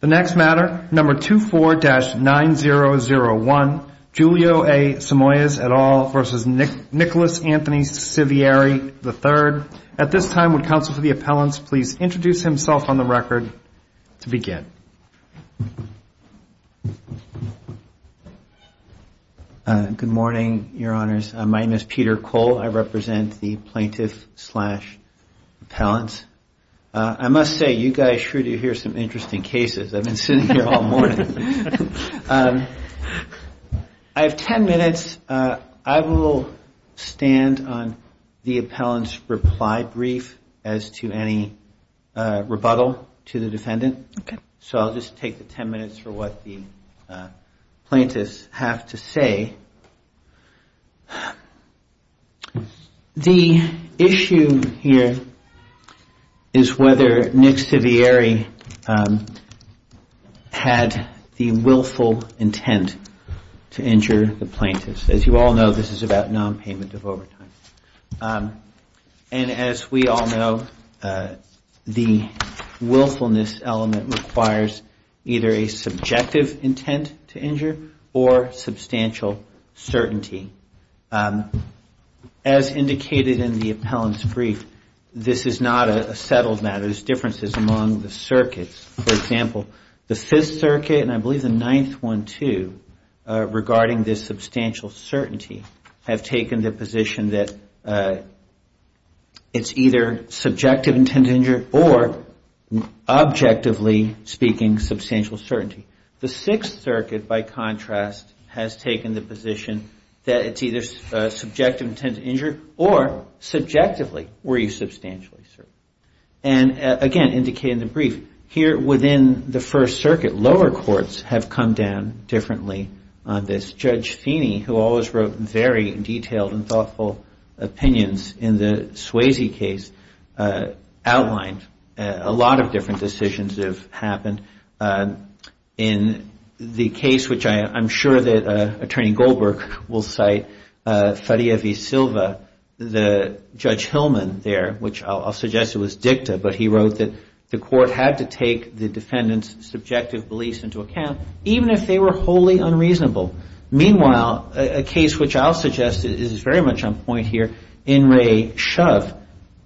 The next matter, number 24-9001, Julio A. Simoes et al. v. Nicholas Anthony Sivieri III. At this time, would counsel for the appellants please introduce himself on the record to begin. Good morning, your honors. My name is Peter Cole. I represent the plaintiff-slash-appellants. I must say, you guys sure do hear some interesting cases. I've been sitting here all morning. I have ten minutes. I will stand on the appellant's reply brief as to any rebuttal to the defendant. So I'll just take the ten minutes for what the plaintiffs have to say. Okay. The issue here is whether Nick Sivieri had the willful intent to injure the plaintiffs. As you all know, this is about non-payment of overtime. And as we all know, the willfulness element requires either a subjective intent to injure or substantial certainty. As indicated in the appellant's brief, this is not a settled matter. There are differences among the circuits. For example, the Fifth Circuit, and I believe the Ninth one too, regarding this substantial certainty, have taken the position that it's either subjective intent to injure or, objectively speaking, substantial certainty. The Sixth Circuit, by contrast, has taken the position that it's either subjective intent to injure or, subjectively, were you substantially certain. And again, indicated in the brief, here within the First Circuit, lower courts have come down differently on this. Judge Feeney, who always wrote very detailed and thoughtful opinions in the Swayze case, outlined a lot of different decisions that have happened. In the case, which I'm sure that Attorney Goldberg will cite, Faria v. Silva, the judge Hillman there, which I'll suggest it was Dicta, but he wrote that the court had to take the defendant's subjective beliefs into account, even if they were wholly unreasonable. Meanwhile, a case which I'll suggest is very much on point here, In re Shove,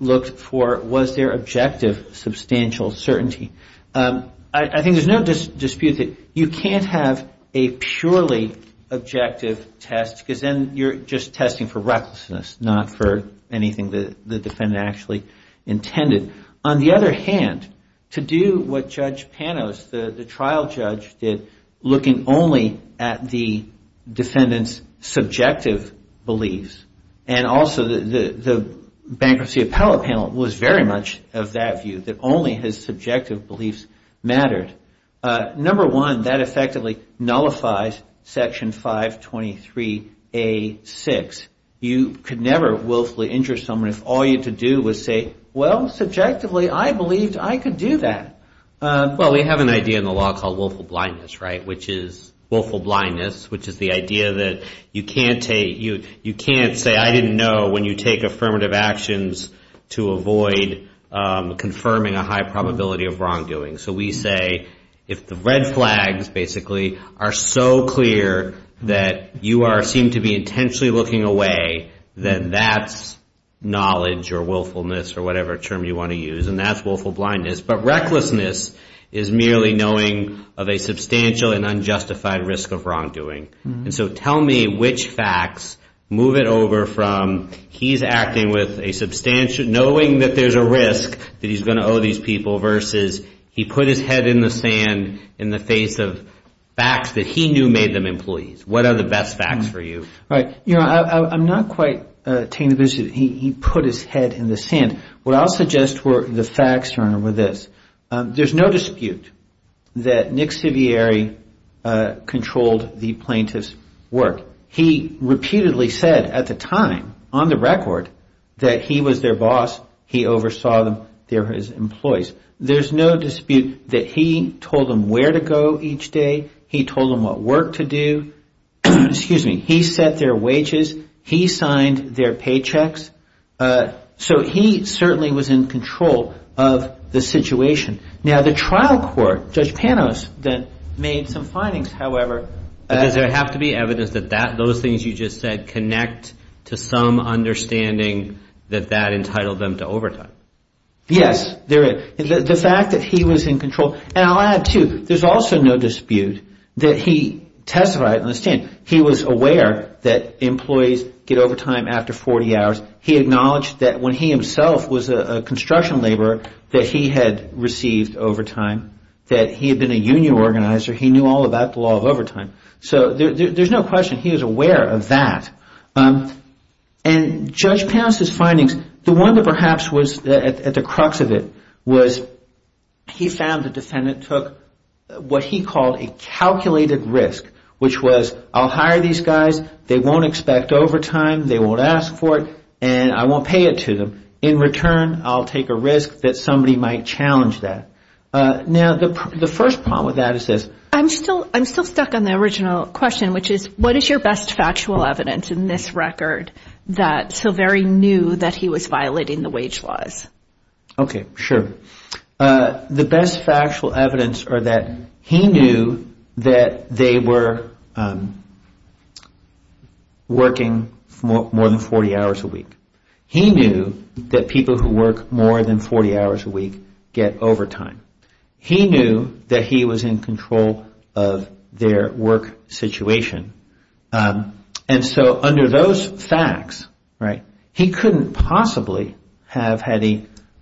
looked for was there objective substantial certainty. I think there's no dispute that you can't have a purely objective test, because then you're just testing for recklessness, not for anything the defendant actually intended. On the other hand, to do what Judge Panos, the trial judge, did, looking only at the defendant's subjective beliefs, and also the bankruptcy appellate panel was very much of that view, that only his subjective beliefs mattered. Number one, that effectively nullifies Section 523A6. You could never willfully injure someone if all you had to do was say, well, subjectively, I believed I could do that. Well, we have an idea in the law called willful blindness, right, which is willful blindness, because you can't say I didn't know when you take affirmative actions to avoid confirming a high probability of wrongdoing. So we say if the red flags, basically, are so clear that you seem to be intentionally looking away, then that's knowledge or willfulness or whatever term you want to use, and that's willful blindness. But recklessness is merely knowing of a substantial and unjustified risk of wrongdoing. And so tell me which facts move it over from he's acting with a substantial, knowing that there's a risk that he's going to owe these people, versus he put his head in the sand in the face of facts that he knew made them employees. What are the best facts for you? You know, I'm not quite tamed to this. He put his head in the sand. What I'll suggest were the facts, Your Honor, were this. There's no dispute that Nick Sivieri controlled the plaintiff's work. He repeatedly said at the time, on the record, that he was their boss. He oversaw their employees. There's no dispute that he told them where to go each day. He told them what work to do. He set their wages. He signed their paychecks. So he certainly was in control of the situation. Now, the trial court, Judge Panos made some findings, however. Does there have to be evidence that those things you just said connect to some understanding that that entitled them to overtime? Yes. The fact that he was in control. And I'll add, too, there's also no dispute that he testified in the stand. He was aware that employees get overtime after 40 hours. He acknowledged that when he himself was a construction laborer, that he had received overtime. That he had been a union organizer. He knew all about the law of overtime. So there's no question he was aware of that. And Judge Panos' findings, the one that perhaps was at the crux of it, was he found the defendant what he called a calculated risk, which was, I'll hire these guys. They won't expect overtime. They won't ask for it. And I won't pay it to them. In return, I'll take a risk that somebody might challenge that. Now, the first problem with that is this. I'm still stuck on the original question, which is, what is your best factual evidence in this record that Silveri knew that he was violating the wage laws? Okay. Sure. The best factual evidence are that he knew that they were working more than 40 hours a week. He knew that people who work more than 40 hours a week get overtime. He knew that he was in control of their work situation. And so under those facts, he couldn't possibly have had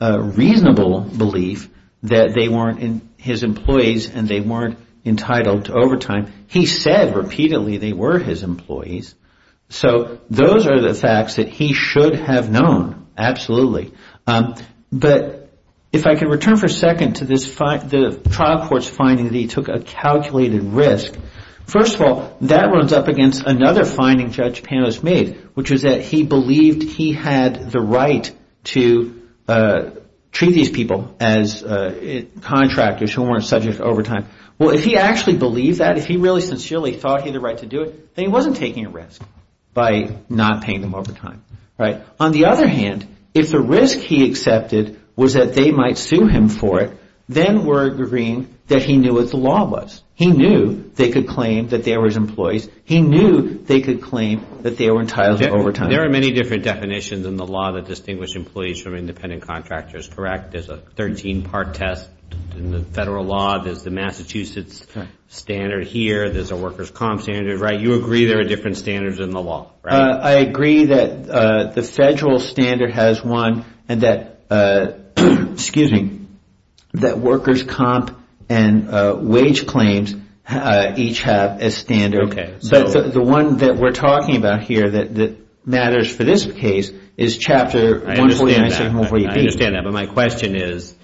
a reasonable belief that they weren't his employees and they weren't entitled to overtime. He said repeatedly they were his employees. So those are the facts that he should have known, absolutely. But if I can return for a second to the trial court's finding that he took a calculated risk, first of all, that runs up against another finding Judge Panos made, which is that he believed he had the right to treat these people as contractors who weren't subject to overtime. Well, if he actually believed that, if he really sincerely thought he had the right to do it, then he wasn't taking a risk by not paying them overtime. On the other hand, if the risk he accepted was that they might sue him for it, then we're agreeing that he knew what the law was. He knew they could claim that they were his employees. He knew they could claim that they were entitled to overtime. There are many different definitions in the law that distinguish employees from independent contractors, correct? There's a 13-part test in the federal law. There's the Massachusetts standard here. There's a workers' comp standard, right? You agree there are different standards in the law, right? I agree that the federal standard has one and that workers' comp and wage claims each have a standard. The one that we're talking about here that matters for this case is Chapter 149, 148B. I understand that, but my question is,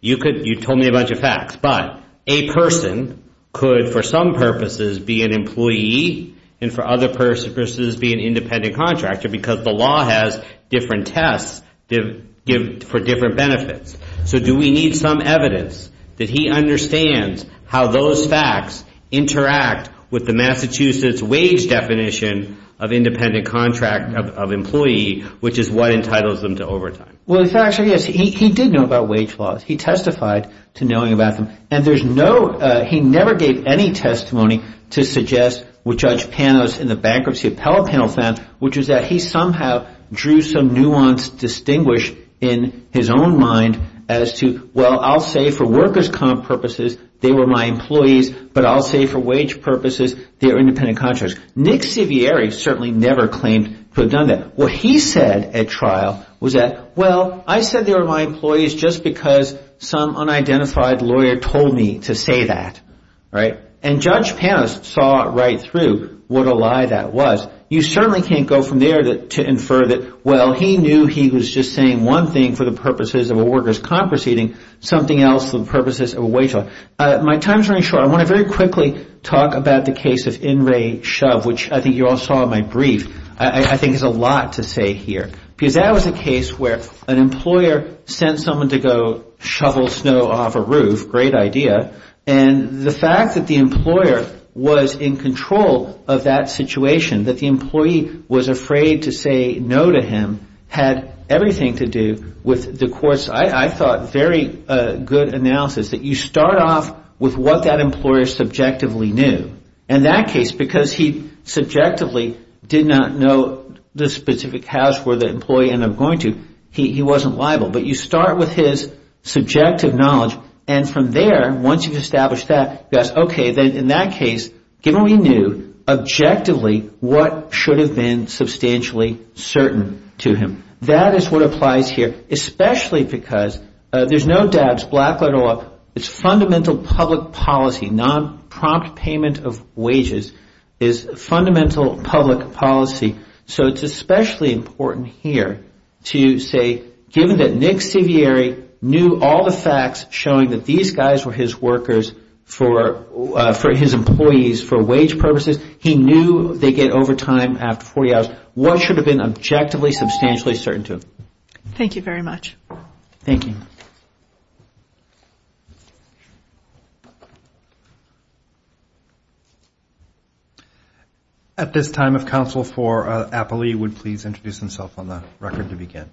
you told me a bunch of facts, but a person could for some purposes be an employee and for other purposes be an independent contractor because the law has different tests for different benefits. So do we need some evidence that he understands how those facts interact with the Massachusetts wage definition of independent contract of employee, which is what entitles them to overtime? Well, the fact is he did know about wage laws. He testified to knowing about them. And he never gave any testimony to suggest what Judge Panos in the bankruptcy appellate panel found, which is that he somehow drew some nuanced distinguish in his own mind as to, well, I'll say for workers' comp purposes they were my employees, but I'll say for wage purposes they were independent contractors. Nick Sivieri certainly never claimed to have done that. What he said at trial was that, well, I said they were my employees just because some unidentified lawyer told me to say that. And Judge Panos saw right through what a lie that was. You certainly can't go from there to infer that, well, he knew he was just saying one thing for the purposes of a workers' comp proceeding, something else for the purposes of a wage law. My time is running short. I want to very quickly talk about the case of In Re Shove, which I think you all saw in my brief. I think there's a lot to say here. Because that was a case where an employer sent someone to go shovel snow off a roof, great idea, and the fact that the employer was in control of that situation, that the employee was afraid to say no to him, had everything to do with the court's, I thought, very good analysis, that you start off with what that employer subjectively knew. In that case, because he subjectively did not know the specific house where the employee ended up going to, he wasn't liable. But you start with his subjective knowledge, and from there, once you've established that, you ask, okay, then in that case, given what he knew, objectively, what should have been substantially certain to him? That is what applies here, especially because there's no doubt, it's fundamental public policy, non-prompt payment of wages is fundamental public policy. So it's especially important here to say, given that Nick Sevieri knew all the facts showing that these guys were his workers for his employees for wage purposes, he knew they get overtime after 40 hours, what should have been objectively substantially certain to him? Thank you very much. Thank you. At this time, if counsel for Apelli would please introduce himself on the record to begin.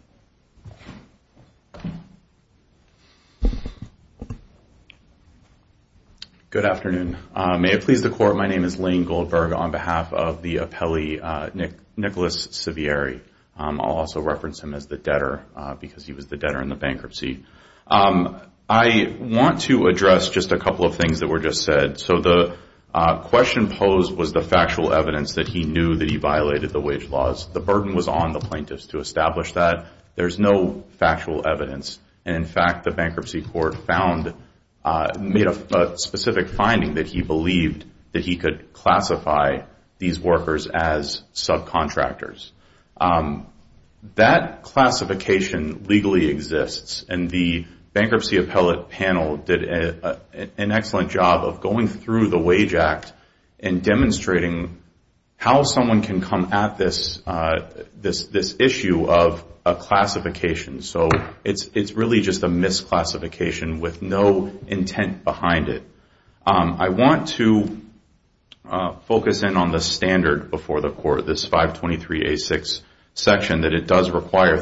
Good afternoon. May it please the Court, my name is Lane Goldberg on behalf of the Apelli, Nicholas Sevieri. I'll also reference him as the debtor because he was the debtor in the bankruptcy. I want to address just a couple of things that were just said. So the question posed was the factual evidence that he knew that he violated the wage laws. The burden was on the plaintiffs to establish that. There's no factual evidence. In fact, the bankruptcy court found, made a specific finding that he believed that he could classify these workers as subcontractors. That classification legally exists, and the bankruptcy appellate panel did an excellent job of going through the Wage Act and demonstrating how someone can come at this issue of a classification. So it's really just a misclassification with no intent behind it. I want to focus in on the standard before the Court, this 523A6 section, that it does require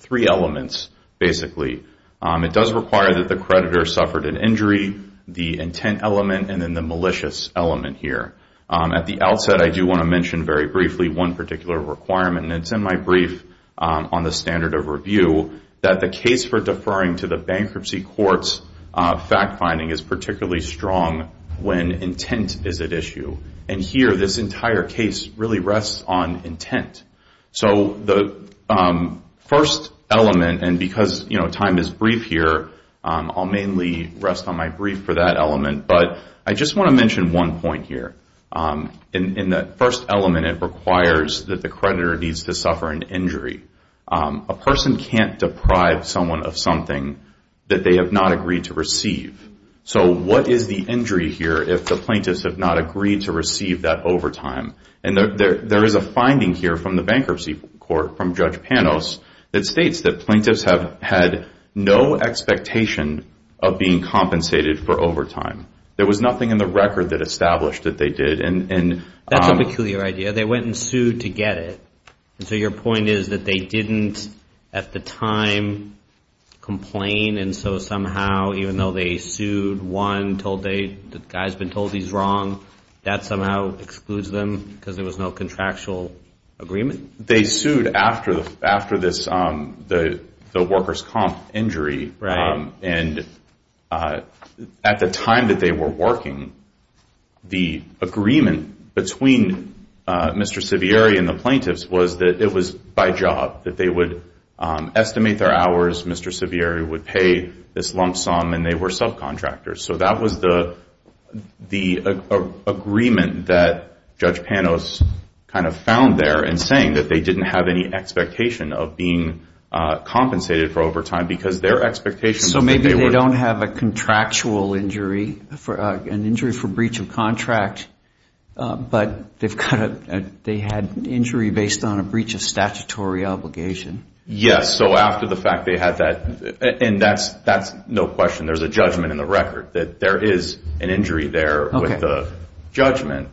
three elements, basically. It does require that the creditor suffered an injury, the intent element, and then the malicious element here. At the outset, I do want to mention very briefly one particular requirement, and it's in my brief on the standard of review, that the case for deferring to the bankruptcy court's fact-finding is particularly strong when intent is at issue. And here, this entire case really rests on intent. So the first element, and because time is brief here, I'll mainly rest on my brief for that element, but I just want to mention one point here. In the first element, it requires that the creditor needs to suffer an injury. A person can't deprive someone of something that they have not agreed to receive. So what is the injury here if the plaintiffs have not agreed to receive that overtime? And there is a finding here from the bankruptcy court, from Judge Panos, that states that plaintiffs have had no expectation of being compensated for overtime. There was nothing in the record that established that they did. That's a peculiar idea. They went and sued to get it. So your point is that they didn't, at the time, complain, and so somehow, even though they sued, one, the guy's been told he's wrong, that somehow excludes them because there was no contractual agreement? They sued after the workers' comp injury, and at the time that they were working, the agreement between Mr. Sivieri and the plaintiffs was that it was by job, that they would estimate their hours, Mr. Sivieri would pay this lump sum, and they were subcontractors. So that was the agreement that Judge Panos kind of found there in saying that they didn't have any expectation of being compensated for overtime So maybe they don't have a contractual injury, an injury for breach of contract, but they had an injury based on a breach of statutory obligation. Yes, so after the fact they had that, and that's no question. There's a judgment in the record that there is an injury there with the judgment.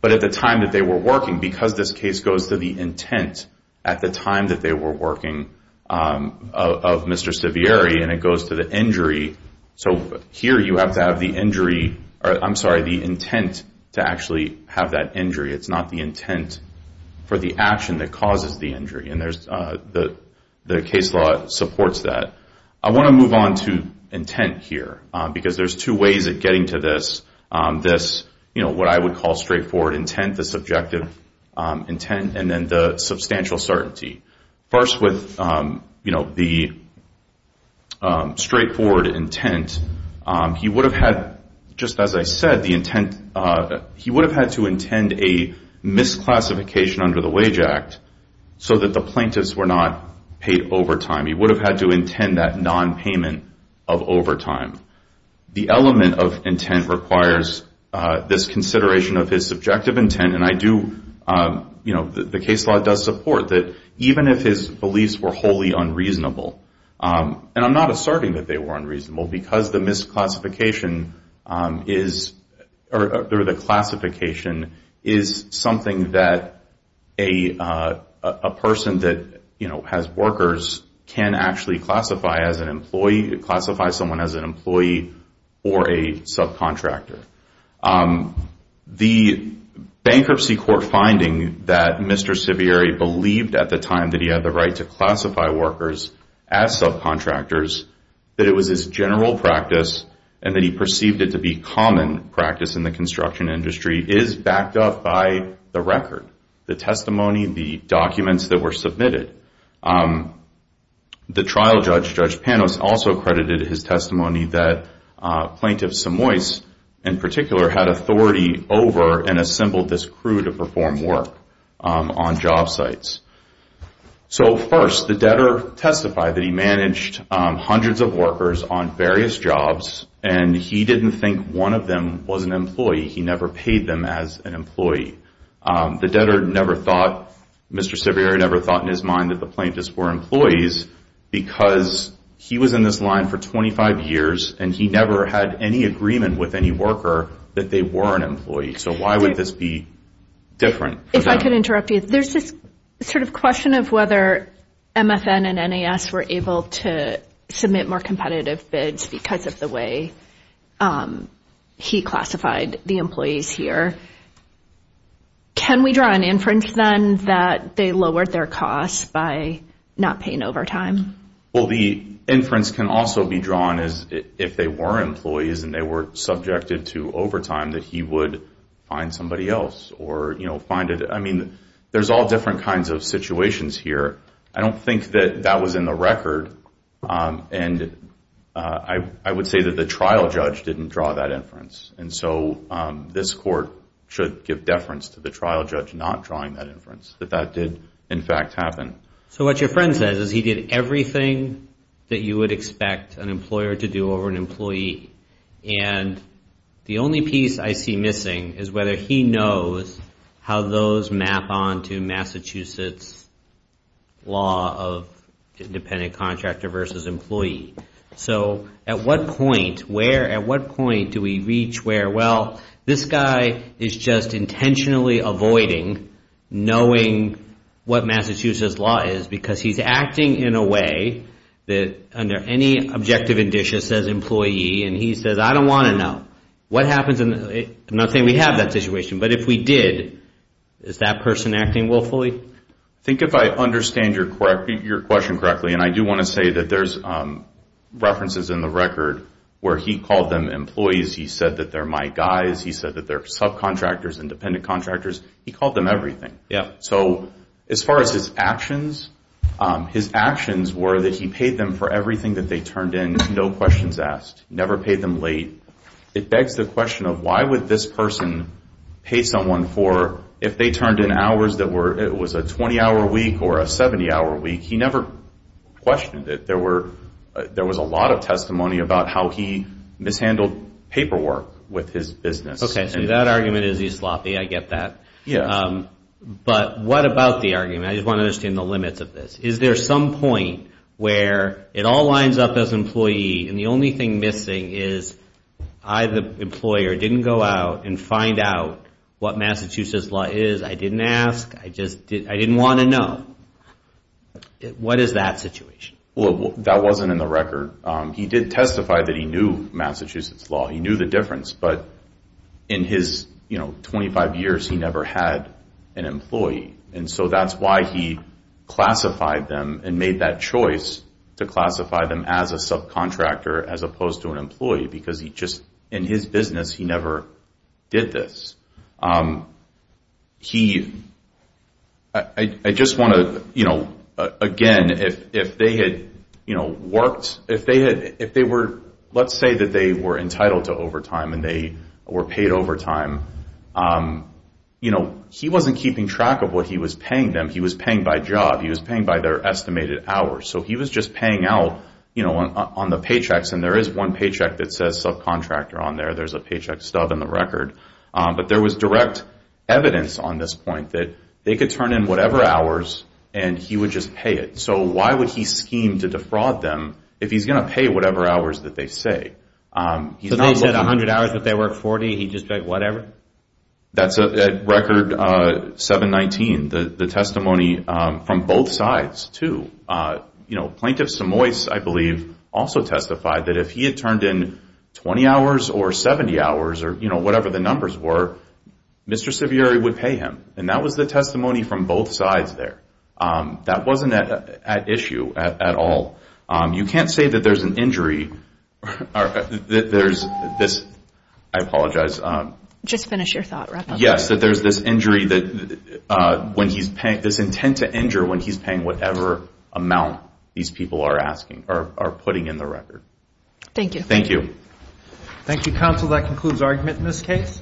But at the time that they were working, because this case goes to the intent at the time that they were working of Mr. Sivieri, and it goes to the injury, so here you have to have the intent to actually have that injury. It's not the intent for the action that causes the injury, and the case law supports that. I want to move on to intent here, because there's two ways of getting to this, what I would call straightforward intent, the subjective intent, and then the substantial certainty. First with the straightforward intent, he would have had, just as I said, he would have had to intend a misclassification under the Wage Act so that the plaintiffs were not paid overtime. He would have had to intend that nonpayment of overtime. The element of intent requires this consideration of his subjective intent, and I do, you know, the case law does support that, even if his beliefs were wholly unreasonable, and I'm not asserting that they were unreasonable, because the misclassification is, or the classification is something that a person that has workers can actually classify as an employee, classify someone as an employee or a subcontractor. The bankruptcy court finding that Mr. Sivieri believed at the time that he had the right to classify workers as subcontractors, that it was his general practice, and that he perceived it to be common practice in the construction industry, is backed up by the record, the testimony, the documents that were submitted. The trial judge, Judge Panos, also credited his testimony that Plaintiff Samois in particular had authority over and assembled this crew to perform work on job sites. So first, the debtor testified that he managed hundreds of workers on various jobs, and he didn't think one of them was an employee. He never paid them as an employee. The debtor never thought, Mr. Sivieri never thought in his mind that the plaintiffs were employees, because he was in this line for 25 years, and he never had any agreement with any worker that they were an employee. So why would this be different? If I could interrupt you. There's this sort of question of whether MFN and NAS were able to submit more competitive bids because of the way he classified the employees here. Can we draw an inference then that they lowered their costs by not paying overtime? Well, the inference can also be drawn as if they were employees and they were subjected to overtime that he would find somebody else or, you know, find it. I mean, there's all different kinds of situations here. I don't think that that was in the record, and I would say that the trial judge didn't draw that inference. And so this court should give deference to the trial judge not drawing that inference, that that did in fact happen. So what your friend says is he did everything that you would expect an employer to do over an employee, and the only piece I see missing is whether he knows how those map on to Massachusetts law of independent contractor versus employee. So at what point do we reach where, well, this guy is just intentionally avoiding knowing what Massachusetts law is because he's acting in a way that under any objective indicia says employee, and he says, I don't want to know. What happens in the, I'm not saying we have that situation, but if we did, is that person acting willfully? I think if I understand your question correctly, and I do want to say that there's references in the record where he called them employees. He said that they're my guys. He said that they're subcontractors, independent contractors. He called them everything. So as far as his actions, his actions were that he paid them for everything that they turned in, no questions asked, never paid them late. It begs the question of why would this person pay someone for if they turned in hours that were, it was a 20-hour week or a 70-hour week. He never questioned it. There was a lot of testimony about how he mishandled paperwork with his business. Okay. So that argument is he's sloppy. I get that. Yeah. But what about the argument? I just want to understand the limits of this. Is there some point where it all lines up as employee and the only thing missing is I, the employer, didn't go out and find out what Massachusetts law is? I didn't ask. I just didn't want to know. What is that situation? That wasn't in the record. He did testify that he knew Massachusetts law. He knew the difference. But in his, you know, 25 years, he never had an employee. And so that's why he classified them and made that choice to classify them as a subcontractor as opposed to an employee because he just, in his business, he never did this. He, I just want to, you know, again, if they had, you know, worked, if they were, let's say that they were entitled to overtime and they were paid overtime, you know, he wasn't keeping track of what he was paying them. He was paying by job. He was paying by their estimated hours. So he was just paying out, you know, on the paychecks. And there is one paycheck that says subcontractor on there. There's a paycheck stub in the record. But there was direct evidence on this point that they could turn in whatever hours and he would just pay it. So why would he scheme to defraud them if he's going to pay whatever hours that they say? So they said 100 hours, but they worked 40, he just paid whatever? That's a record 719, the testimony from both sides, too. You know, Plaintiff Samois, I believe, also testified that if he had turned in 20 hours or 70 hours or, you know, whatever the numbers were, Mr. Sivieri would pay him. And that was the testimony from both sides there. That wasn't at issue at all. You can't say that there's an injury or that there's this, I apologize. Just finish your thought. Yes, that there's this injury that when he's paying, this intent to injure when he's paying whatever amount these people are asking or putting in the record. Thank you. Thank you. Thank you, counsel. That concludes argument in this case.